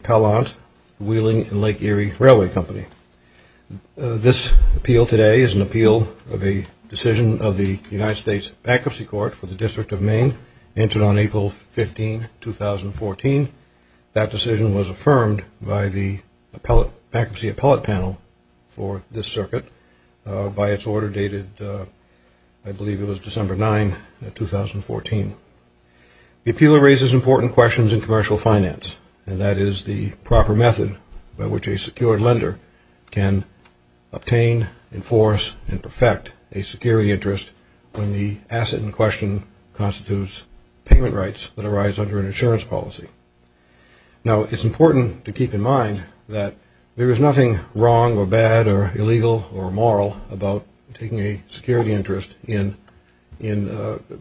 Appellant, Wheeling & Lake Erie Railway Company. This appeal today is an appeal of a decision of the United States Appeal Court for the District of Maine entered on April 15, 2014. That decision was affirmed by the Appellate Panel for this circuit by its order dated I believe it was December 9, 2014. The appeal raises important questions in commercial finance and that is the proper method by which a secured lender can obtain, enforce, and perfect a security interest when the asset in question constitutes payment rights that arise under an insurance policy. Now it's important to keep in mind that there is nothing wrong or bad or illegal or immoral about taking a security interest in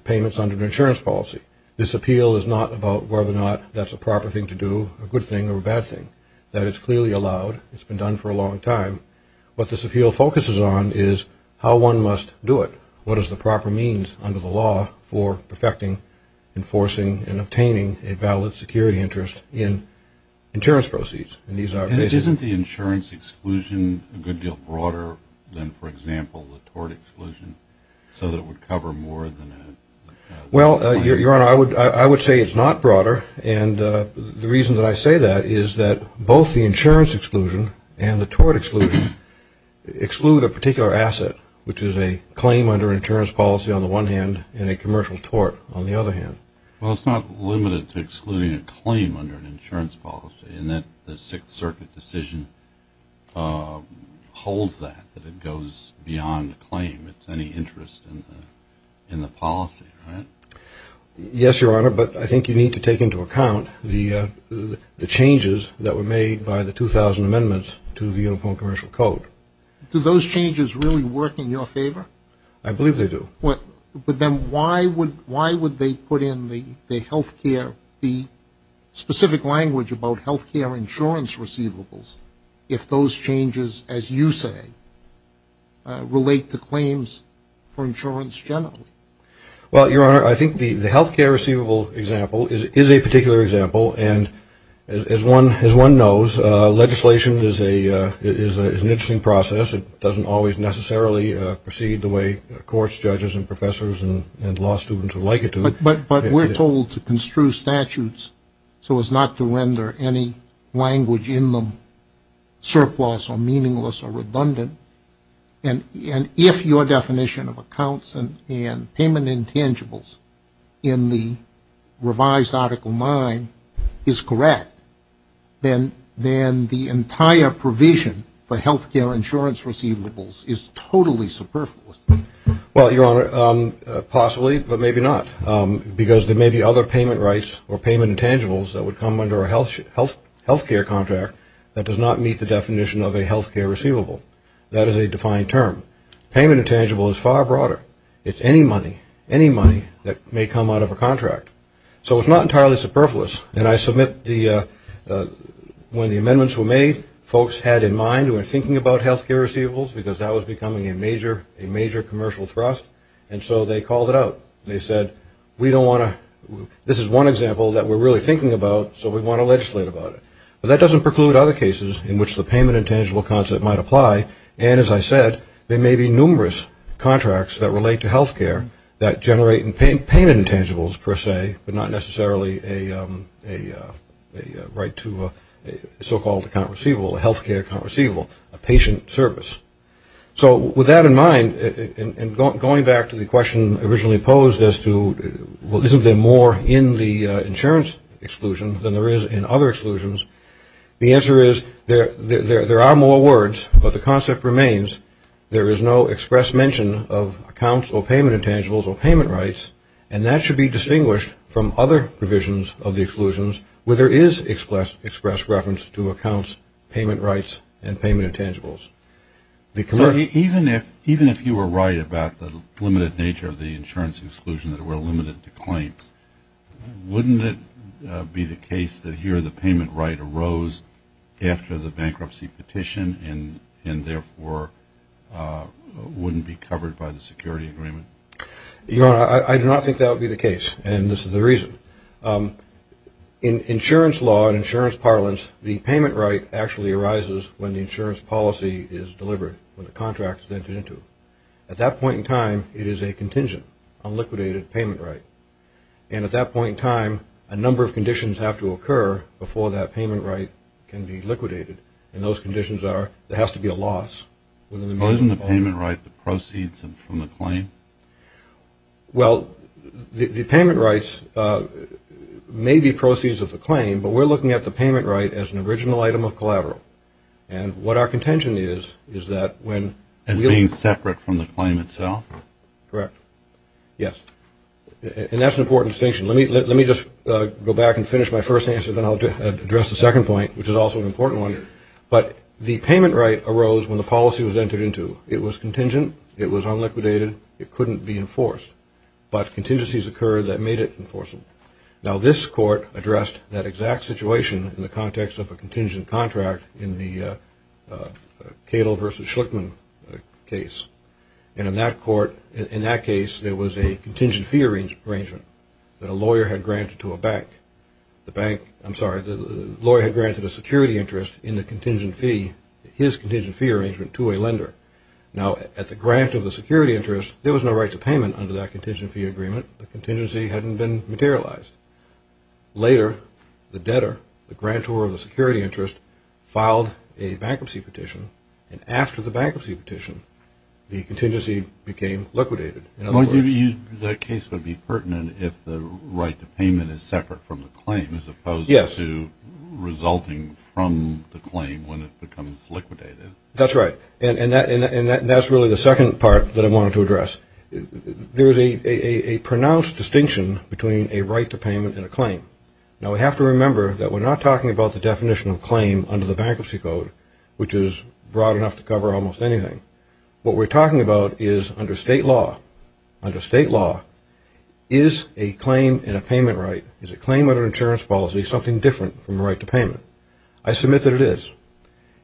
payments under an insurance policy. This appeal is not about whether or not that's a proper thing to do, a good thing or a bad thing. That it's clearly allowed. It's been done for a long time. What this appeal focuses on is how one must do it. What is the proper means under the law for perfecting, enforcing, and obtaining a valid security interest in insurance proceeds. And these are... And isn't the insurance exclusion a good deal broader than, for example, the tort exclusion so that it would cover more than a... Well, Your Honor, I would say it's not broader and the reason that I say that is that both the insurance exclusion and the tort exclusion exclude a particular asset, which is a claim under an insurance policy on the one hand and a commercial tort on the other hand. Well, it's not limited to excluding a claim under an insurance policy in that the Sixth Circuit decision holds that, that it goes beyond a claim. It's any interest in the policy, right? Yes, Your Honor, but I think you need to take into account the changes that were made by the 2,000 amendments to the Uniform Commercial Code. Do those changes really work in your favor? I believe they do. But then why would they put in the health care, the specific language about health care insurance receivables if those changes, as you say, relate to claims for insurance generally? Well, Your Honor, I think the health care receivable example is a particular example and as one knows, legislation is an interesting process. It doesn't always necessarily proceed the way courts, judges, and professors and law students would like it to. But we're told to construe statutes so as not to render any language in them surplus or meaningless or redundant and if your definition of accounts and payment intangibles in the revised Article 9 is correct, then the entire provision for health care insurance receivables is totally superfluous. Well, Your Honor, possibly, but maybe not because there may be other payment rights or payment intangibles that would come under a health care contract that does not meet the definition of a health care receivable. That is a defined term. Payment intangible is far broader. It's any money, any money that may come out of a contract. So it's not entirely superfluous and I submit the, when the amendments were made, folks had in mind, were thinking about health care receivables because that was becoming a major, a major commercial thrust and so they called it out. They said, we don't want to, this is one example that we're really thinking about, so we want to legislate about it. But that doesn't preclude other cases in which the payment intangible concept might apply and, as I said, there may be numerous contracts that relate to health care that generate payment intangibles per se, but not necessarily a right to a so-called account receivable, a health care account receivable, a patient service. So with that in mind, and going back to the question originally posed as to, well, isn't there more in the insurance exclusion than there is in other exclusions? The answer is there are more words, but the concept remains there is no express mention of accounts or payment intangibles or payment rights and that should be distinguished from other provisions of the exclusions where there is express reference to accounts, payment rights, and payment intangibles. Even if, even if you were right about the limited nature of the insurance exclusion that were limited to claims, wouldn't it be the case that here the payment right arose after the bankruptcy petition and therefore wouldn't be covered by the security agreement? Your Honor, I do not think that would be the case, and this is the reason. In insurance law and insurance parlance, the payment right actually arises when the insurance policy is delivered, when the contract is entered into. At that point in time, it is a contingent, a liquidated payment right. And at that point in time, a number of conditions have to occur before that payment right can be liquidated. And those conditions are, there has to be a loss within the meaning of the loan. Well, isn't the payment right the proceeds from the claim? Well, the payment rights may be proceeds of the claim, but we're looking at the payment right as an original item of collateral. And what our contention is, is that when... As being separate from the claim itself? Correct. Yes. And that's an important distinction. Let me, let me just go back and finish my first answer, then I'll address the second point, which is also an important one. But the payment right arose when the policy was entered into. It was contingent, it was unliquidated, it couldn't be enforced. But contingencies occurred that made it enforceable. Now this court addressed that exact situation in the context of a contingent contract in the Cato versus Schlickman case. And in that court, in that case, there was a contingent fee arrangement that a lawyer had granted to a bank. The bank, I'm sorry, the lawyer had granted a security interest in the contingent fee, his contingent fee arrangement to a lender. Now at the grant of the security interest, there was no right to payment under that contingent fee agreement. The contingency hadn't been materialized. Later, the debtor, the grantor of the security interest, filed a bankruptcy petition. And after the bankruptcy petition, the contingency became liquidated. In other words, that case would be pertinent if the right to payment is separate from the claim as opposed to resulting from the claim when it becomes liquidated. That's right. And that's really the second part that I wanted to address. There is a pronounced distinction between a right to payment and a claim. Now we have to remember that we're not talking about the definition of claim under the bankruptcy code, which is broad enough to cover almost anything. What we're talking about is under state law. Under state law, is a claim in a payment right, is a claim under insurance policy something different from a right to payment? I submit that it is.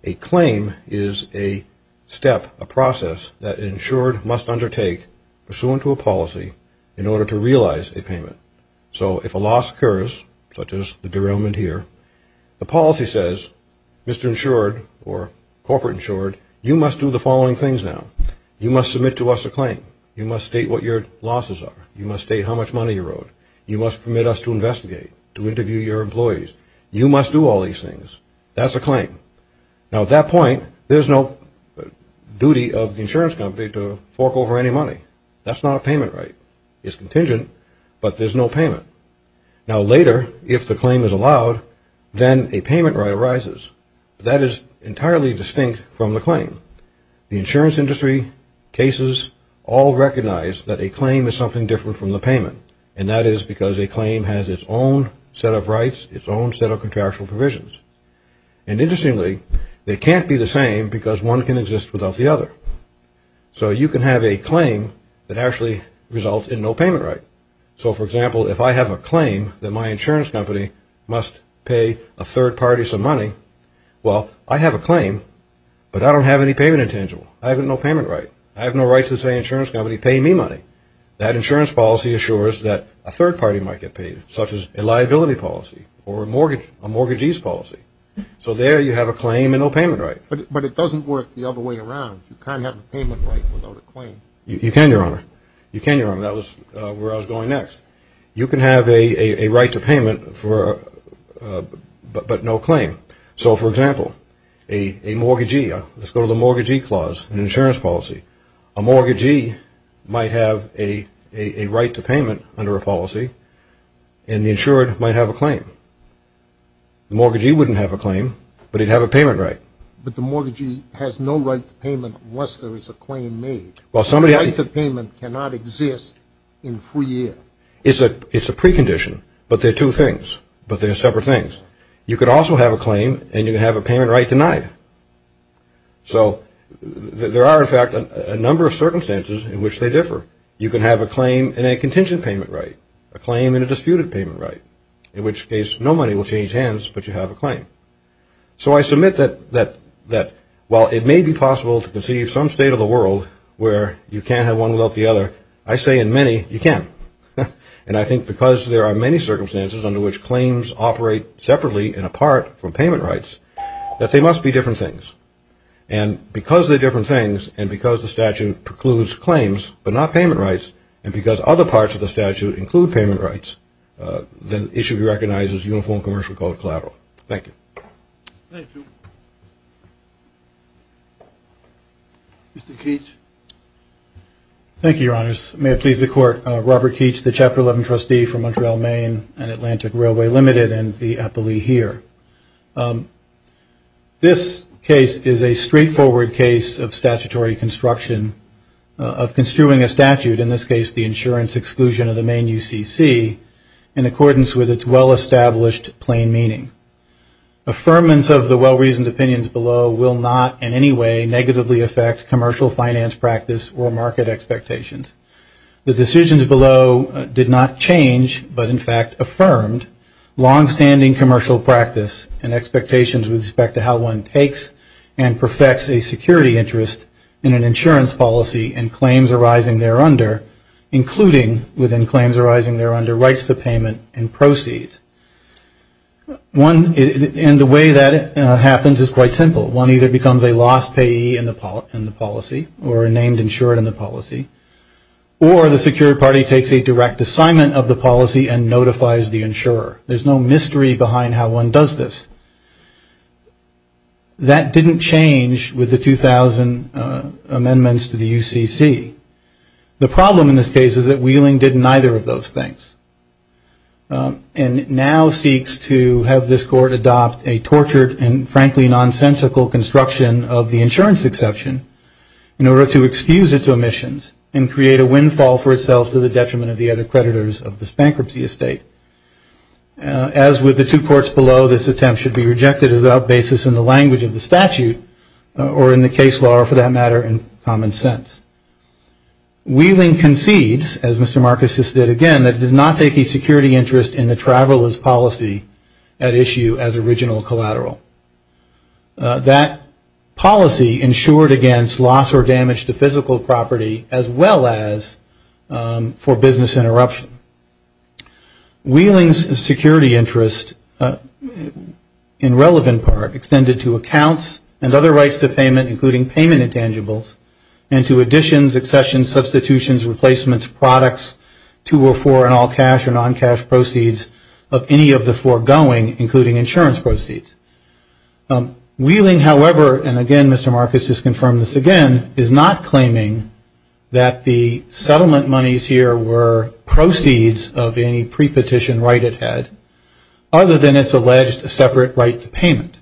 A claim is a step, a process that an insured must undertake pursuant to a policy in order to realize a payment. So if a loss occurs, such as the derailment here, the policy says, Mr. Insured or Corporate Insured, you must do the following things now. You must submit to us a claim. You must state what your losses are. You must state how much money you wrote. You must permit us to investigate, to interview your employees. You must do all these things. That's a claim. Now at that point, there's no duty of the insurance company to fork over any money. That's not a payment right. It's contingent, but there's no payment. Now later, if the claim is allowed, then a payment right arises. That is entirely distinct from the claim. The insurance industry, cases, all recognize that a claim is something different from the payment, and that is because a claim has its own set of rights, its own set of contractual provisions. And interestingly, they can't be the same because one can exist without the other. So you can have a claim that actually results in no payment right. So for example, if I have a claim that my insurance company must pay a third party some money, well, I have a claim, but I don't have any payment intangible. I have no payment right. I have no right to say, insurance company, pay me money. That insurance policy assures that a third party might get paid, such as a liability policy or a mortgagee's policy. So there you have a claim and no payment right. But it doesn't work the other way around. You can't have a payment right without a claim. You can, Your Honor. You can, Your Honor. That was where I was going next. You can have a right to payment, but no claim. So for example, a mortgagee, let's go to the mortgagee clause in insurance policy. A mortgagee might have a right to payment under a policy, and the insured might have a claim. The mortgagee wouldn't have a claim, but he'd have a payment right. But the mortgagee has no right to payment unless there is a claim made. Well, somebody... The right to payment cannot exist in free air. It's a precondition, but they're two things. But they're separate things. You could also have a claim, and you could have a payment right denied. So there are, in fact, a number of circumstances in which they differ. You can have a claim in a contingent payment right, a claim in a disputed payment right, in which case no money will change hands, but you have a claim. So I submit that while it may be possible to conceive some state of the world where you can't have one without the other, I say in many, you can. And I think because there are many circumstances under which claims operate separately and apart from payment rights, that they must be different things. And because they're different things, and because the statute precludes claims but not payment rights, and because other parts of the statute include payment rights, then it should be recognized as Uniform Commercial Code collateral. Thank you. Thank you. Mr. Keech. Thank you, Your Honors. May it please the Court. Robert Keech, the Chapter 11 trustee from Montreal, Maine, and Atlantic Railway Limited, and the appellee here. This case is a straightforward case of statutory construction, of construing a statute, in this case the insurance exclusion of the Maine UCC, in accordance with its well-established plain meaning. Affirmance of the well-reasoned opinions below will not in any way negatively affect commercial finance practice or market expectations. The decisions below did not change, but in fact affirmed long-standing commercial practice and expectations with respect to how one takes and perfects a security interest in an insurance policy and claims arising there under, including within claims arising there under rights to payment and proceeds. And the way that happens is quite simple. One either becomes a lost payee in the policy or a named insured in the policy, or the secured party takes a direct assignment of the policy and notifies the insurer. There's no mystery behind how one does this. That didn't change with the 2000 amendments to the UCC. The problem in this case is that Wheeling did neither of those things. And now seeks to have this Court adopt a tortured and frankly nonsensical construction of the insurance exception in order to excuse its omissions and create a windfall for itself to the detriment of the other creditors of this bankruptcy estate. As with the two courts below, this attempt should be rejected without basis in the language of the statute or in the case law or for that matter in common sense. Wheeling concedes, as Mr. Marcus just did again, that it did not take a security interest in the traveler's policy at issue as original collateral. That policy insured against loss or damage to physical property as well as for business interruption. Wheeling's security interest in relevant part extended to accounts and other rights to payment including payment intangibles and to additions, accessions, substitutions, replacements, products, two or four in all cash or non-cash proceeds of any of the foregoing including insurance proceeds. Wheeling, however, and again Mr. Marcus just confirmed this again, is not claiming that the settlement monies here were proceeds of any pre-petition right it had other than its alleged separate right to payment.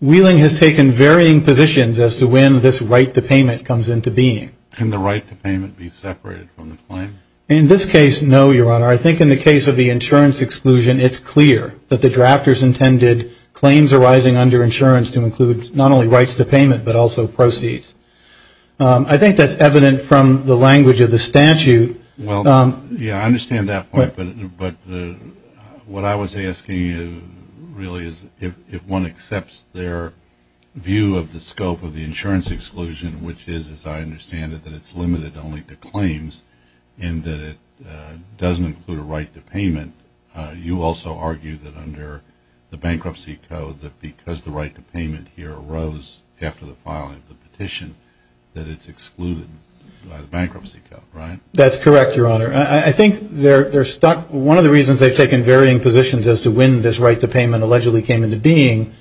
Wheeling has taken varying positions as to when this right to payment comes into being. Can the right to payment be separated from the claim? In this case, no, Your Honor. I think in the case of the insurance exclusion, it's clear that the drafters intended claims arising under insurance to include not only rights to payment but also proceeds. I think that's evident from the language of the statute. Well, yeah, I understand that point, but what I was asking you really is if one accepts their view of the scope of the insurance exclusion which is, as I understand it, that it's limited only to claims and that it doesn't include a right to payment, you also argue that under the bankruptcy code that because the right to payment here arose after the filing of the petition, that it's excluded by the bankruptcy code, right? That's correct, Your Honor. I think they're stuck. One of the reasons they've taken varying positions as to when this right to payment allegedly came into being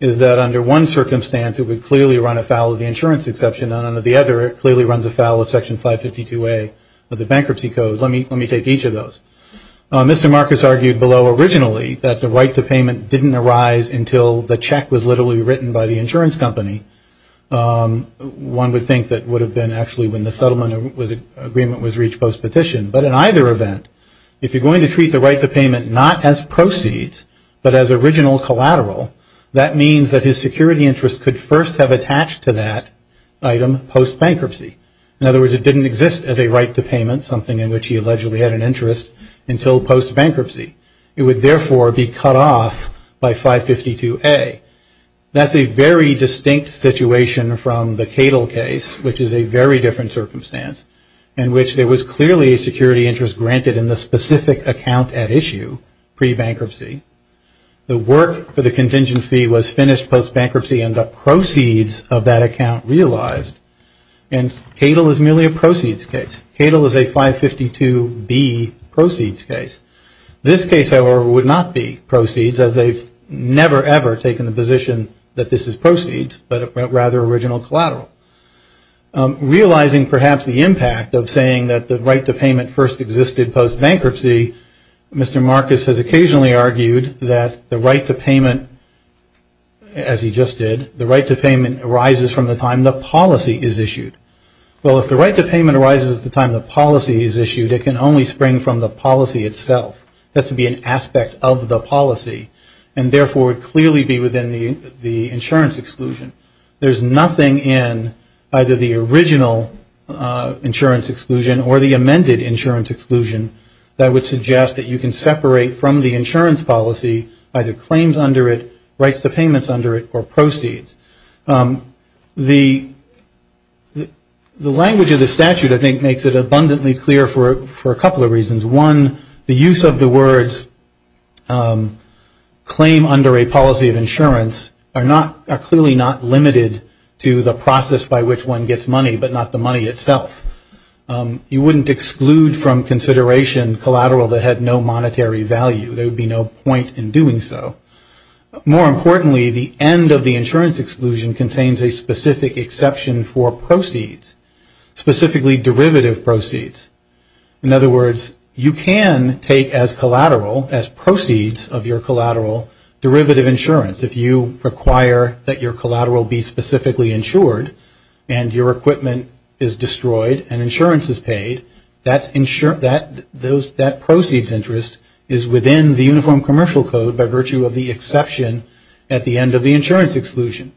is that under one circumstance it would clearly run afoul of the insurance exception and under the other it clearly runs afoul of Section 552A of the bankruptcy code. Let me take each of those. Mr. Marcus argued below originally that the right to payment didn't arise until the check was literally written by the insurance company. One would think that it would have been actually when the settlement agreement was reached post-petition. But in either event, if you're going to treat the right to payment not as proceeds but as original collateral, that means that his security interests could first have attached to that item post-bankruptcy. In other words, it didn't exist as a right to payment, something in which he allegedly had an interest, until post-bankruptcy. It would, therefore, be cut off by 552A. That's a very distinct situation from the Cadle case, which is a very different circumstance, in which there was clearly a security interest granted in the specific account at issue pre-bankruptcy. The work for the contingent fee was finished post-bankruptcy and the proceeds of that account realized. And Cadle is merely a proceeds case. Cadle is a 552B proceeds case. This case, however, would not be proceeds, as they've never, ever taken the position that this is proceeds, but rather original collateral. Realizing, perhaps, the impact of saying that the right to payment first existed post-bankruptcy, Mr. Marcus has occasionally argued that the right to payment, as he just did, the right to payment arises from the time the policy is issued. Well, if the right to payment arises at the time the policy is issued, it can only spring from the policy itself. It has to be an aspect of the policy and, therefore, would clearly be within the insurance exclusion. There's nothing in either the original insurance exclusion or the amended insurance exclusion that would suggest that you can separate from the insurance policy either claims under it, rights to payments under it, or proceeds. The language of the statute, I think, makes it abundantly clear for a couple of reasons. One, the use of the words claim under a policy of insurance are not, are clearly not limited to the process by which one gets money, but not the money itself. You wouldn't exclude from consideration collateral that had no monetary value. There would be no point in doing so. More importantly, the end of the insurance exclusion contains a specific exception for proceeds, specifically derivative proceeds. In other words, you can take as collateral, as proceeds of your collateral, derivative insurance. If you require that your collateral be specifically insured and your equipment is destroyed and insurance is paid, that proceeds interest is within the Uniform Commercial Code by virtue of the exception at the end of the insurance exclusion.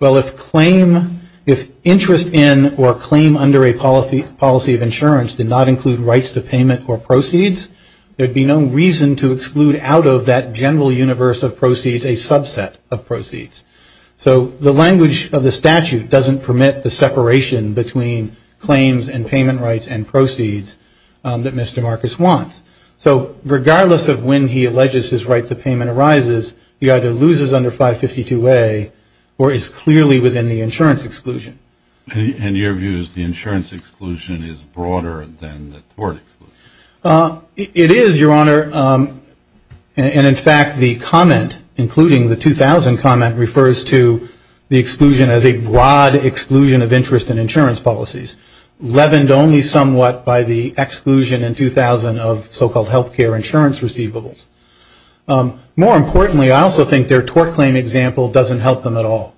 Well, if claim, if interest in or claim under a policy of insurance did not include rights to payment or proceeds, there would be no reason to exclude out of that general universe of proceeds a subset of proceeds. So the language of the statute doesn't permit the separation between claims and payment rights and proceeds that Mr. Marcus wants. So regardless of when he alleges his right to payment arises, he either loses under 552A or is clearly within the insurance exclusion. In your views, the insurance exclusion is broader than the tort exclusion? It is, Your Honor. And, in fact, the comment, including the 2000 comment, refers to the exclusion as a broad exclusion of interest in insurance policies, leavened only somewhat by the exclusion in 2000 of so-called health care insurance receivables. More importantly, I also think their tort claim example doesn't help them at all.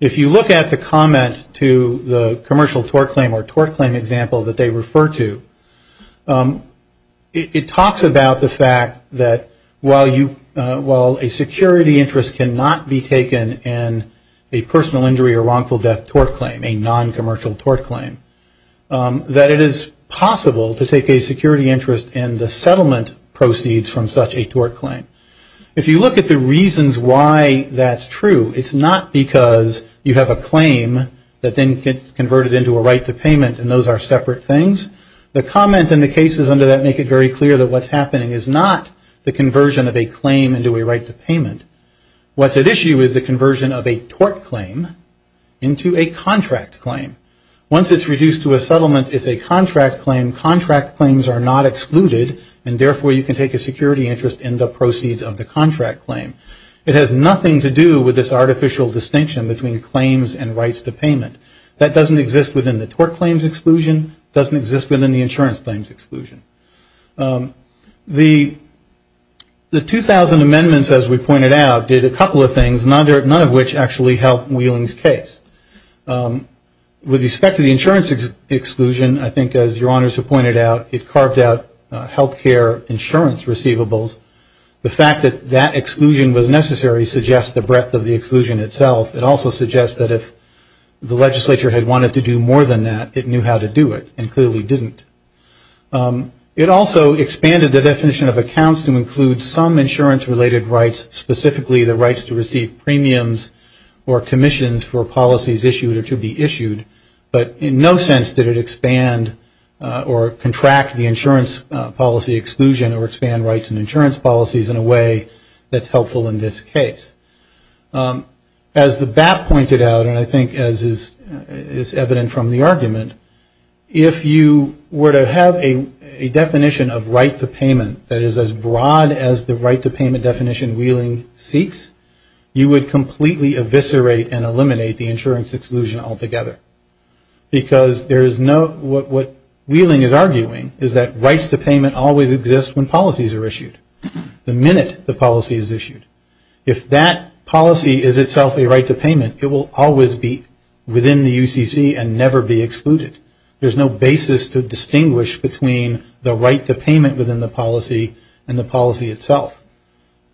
If you look at the comment to the commercial tort claim or tort claim example that they refer to, it talks about the fact that while a security interest cannot be taken in a personal injury or wrongful death tort claim, a non-commercial tort claim, that it is possible to take a security interest in the settlement proceeds from such a tort claim. If you look at the reasons why that's true, it's not because you have a claim that then gets converted into a right to payment and those are separate things. The comment and the cases under that make it very clear that what's happening is not the conversion of a claim into a right to payment. What's at issue is the conversion of a tort claim into a contract claim. Once it's reduced to a settlement, it's a contract claim. Contract claims are not excluded and, therefore, you can take a security interest in the proceeds of the contract claim. It has nothing to do with this artificial distinction between claims and rights to payment. That doesn't exist within the tort claims exclusion. It doesn't exist within the insurance claims exclusion. The 2000 amendments, as we pointed out, did a couple of things, none of which actually helped Wheeling's case. With respect to the insurance exclusion, I think, as your honors have pointed out, it carved out health care insurance receivables. The fact that that exclusion was necessary suggests the breadth of the exclusion itself. It also suggests that if the legislature had wanted to do more than that, it knew how to do it and clearly didn't. It also expanded the definition of accounts to include some insurance-related rights, specifically the rights to receive premiums or commissions for policies issued or to be issued. But in no sense did it expand or contract the insurance policy exclusion or expand rights and insurance policies in a way that's helpful in this case. As the BAP pointed out, and I think as is evident from the argument, if you were to have a definition of right to payment that is as broad as the right to payment definition Wheeling seeks, you would completely eviscerate and eliminate the insurance exclusion altogether. Because what Wheeling is arguing is that rights to payment always exist when policies are issued, the minute the policy is issued. If that policy is itself a right to payment, it will always be within the UCC and never be excluded. There's no basis to distinguish between the right to payment within the policy and the policy itself.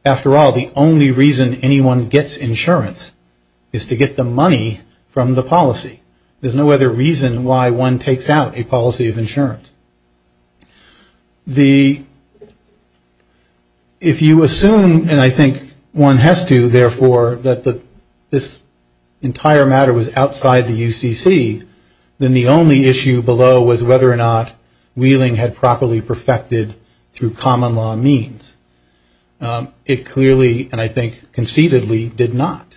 After all, the only reason anyone gets insurance is to get the money from the policy. There's no other reason why one takes out a policy of insurance. If you assume, and I think one has to, therefore, that this entire matter was outside the UCC, then the only issue below was whether or not Wheeling had properly perfected through common law means. It clearly, and I think conceitedly, did not.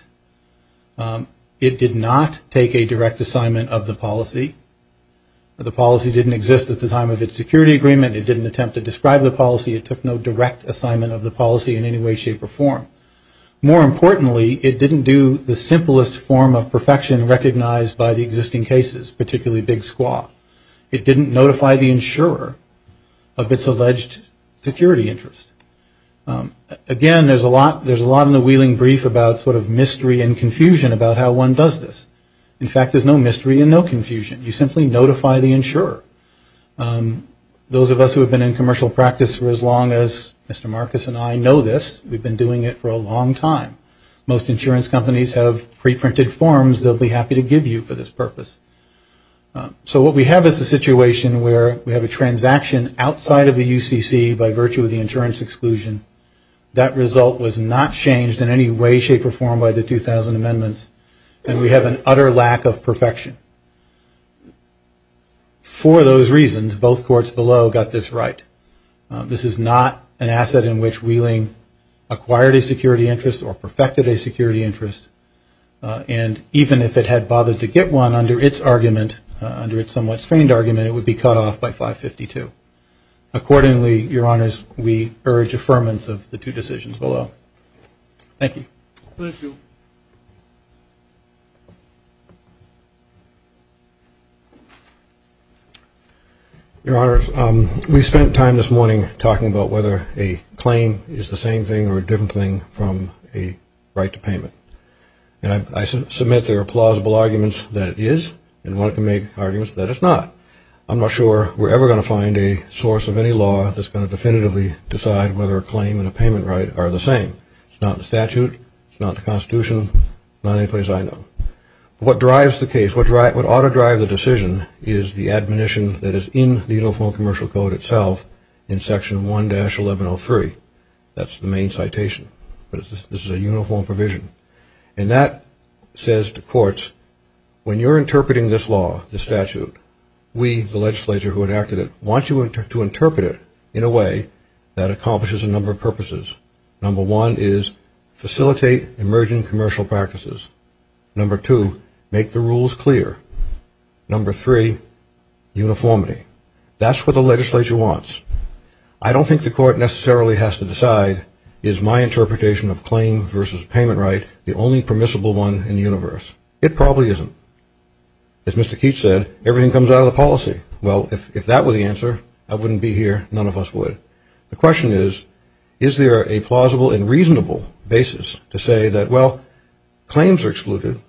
It did not take a direct assignment of the policy. The policy didn't exist at the time of its security agreement. It didn't attempt to describe the policy. It took no direct assignment of the policy in any way, shape, or form. More importantly, it didn't do the simplest form of perfection recognized by the existing cases, particularly Big Squaw. It didn't notify the insurer of its alleged security interest. Again, there's a lot in the Wheeling brief about sort of mystery and confusion about how one does this. In fact, there's no mystery and no confusion. You simply notify the insurer. Those of us who have been in commercial practice for as long as Mr. Marcus and I know this, we've been doing it for a long time. Most insurance companies have pre-printed forms they'll be happy to give you for this purpose. So what we have is a situation where we have a transaction outside of the UCC by virtue of the insurance exclusion. That result was not changed in any way, shape, or form by the 2000 amendments. And we have an utter lack of perfection. For those reasons, both courts below got this right. This is not an asset in which Wheeling acquired a security interest or perfected a security interest. And even if it had bothered to get one under its argument, under its somewhat strained argument, it would be cut off by 552. Accordingly, Your Honors, we urge affirmance of the two decisions below. Thank you. Thank you. Your Honors, we spent time this morning talking about whether a claim is the same thing or a different thing from a right to payment. And I submit there are plausible arguments that it is and want to make arguments that it's not. I'm not sure we're ever going to find a source of any law that's going to definitively decide whether a claim and a payment right are the same. It's not the statute. It's not the Constitution. It's not any place I know. What drives the case, what ought to drive the decision, is the admonition that is in the Uniform Commercial Code itself in Section 1-1103. That's the main citation. This is a uniform provision. And that says to courts, when you're interpreting this law, this statute, we, the legislature who enacted it, want you to interpret it in a way that accomplishes a number of purposes. Number one is facilitate emerging commercial practices. Number two, make the rules clear. Number three, uniformity. That's what the legislature wants. I don't think the court necessarily has to decide, is my interpretation of claims versus payment right the only permissible one in the universe? It probably isn't. As Mr. Keach said, everything comes out of the policy. Well, if that were the answer, I wouldn't be here, none of us would. The question is, is there a plausible and reasonable basis to say that, well, claims are excluded,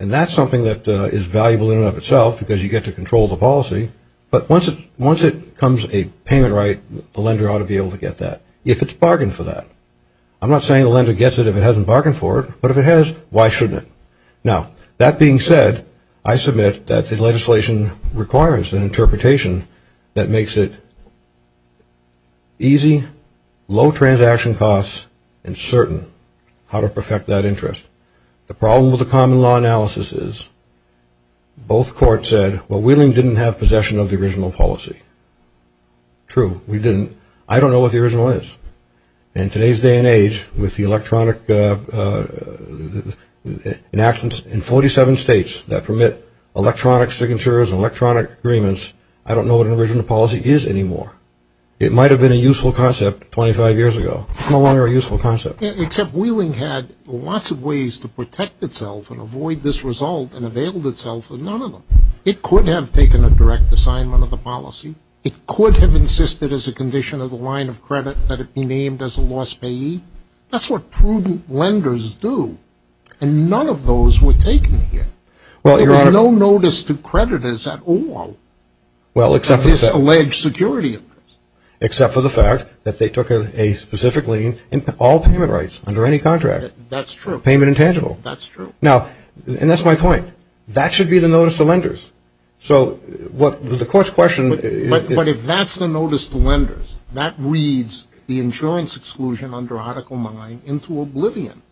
and that's something that is valuable in and of itself because you get to control the policy, but once it comes a payment right, the lender ought to be able to get that, if it's bargained for that. I'm not saying the lender gets it if it hasn't bargained for it, but if it has, why shouldn't it? Now, that being said, I submit that the legislation requires an interpretation that makes it easy, low transaction costs, and certain how to perfect that interest. The problem with the common law analysis is both courts said, well, Wheeling didn't have possession of the original policy. True, we didn't. I don't know what the original is. In today's day and age, with the electronic enactments in 47 states that permit electronic signatures and electronic agreements, I don't know what an original policy is anymore. It might have been a useful concept 25 years ago. It's no longer a useful concept. Except Wheeling had lots of ways to protect itself and avoid this result and availed itself of none of them. It could have taken a direct assignment of the policy. It could have insisted as a condition of the line of credit that it be named as a lost payee. That's what prudent lenders do, and none of those were taken here. There was no notice to creditors at all of this alleged security interest. Except for the fact that they took a specific lien in all payment rights under any contract. That's true. Payment intangible. That's true. That should be the notice to lenders. But if that's the notice to lenders, that reads the insurance exclusion under Article 9 into oblivion.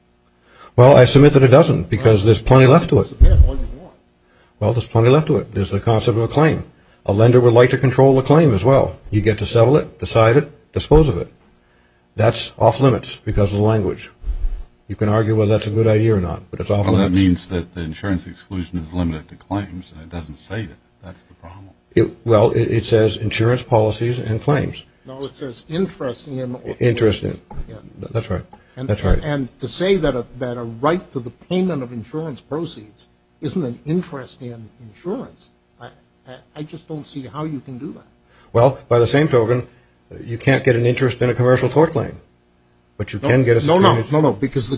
Well, I submit that it doesn't because there's plenty left to it. Well, there's plenty left to it. There's the concept of a claim. A lender would like to control a claim as well. You get to settle it, decide it, dispose of it. That's off limits because of the language. You can argue whether that's a good idea or not, but it's off limits. Well, that means that the insurance exclusion is limited to claims, and it doesn't say that. That's the problem. Well, it says insurance policies and claims. No, it says interest in. Interest in. That's right. That's right. And to say that a right to the payment of insurance proceeds isn't an interest in insurance, I just don't see how you can do that. Well, by the same token, you can't get an interest in a commercial tort claim, but you can get a... The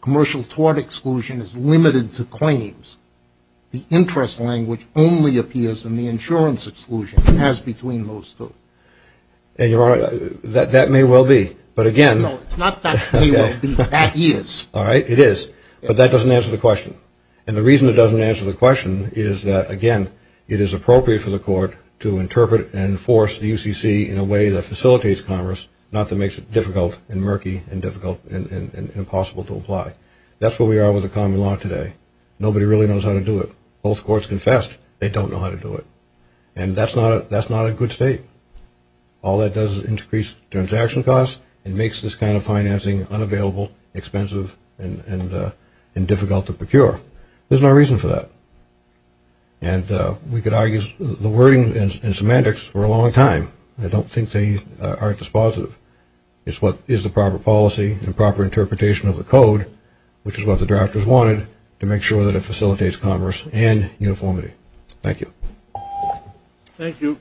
commercial tort exclusion is limited to claims. The interest language only appears in the insurance exclusion. It has between those two. And, Your Honor, that may well be, but again... No, it's not that may well be. That is. All right, it is, but that doesn't answer the question. And the reason it doesn't answer the question is that, again, it is appropriate for the court to interpret and enforce the UCC in a way that facilitates commerce, not that makes it difficult and murky and difficult and impossible to apply. That's where we are with the common law today. Nobody really knows how to do it. Both courts confessed they don't know how to do it. And that's not a good state. All it does is increase transaction costs and makes this kind of financing unavailable, expensive, and difficult to procure. There's no reason for that. And we could argue the wording and semantics were a long time. I don't think they are at dispositive. It's what is the proper policy and proper interpretation of the code, which is what the drafters wanted to make sure that it facilitates commerce and uniformity. Thank you. Thank you.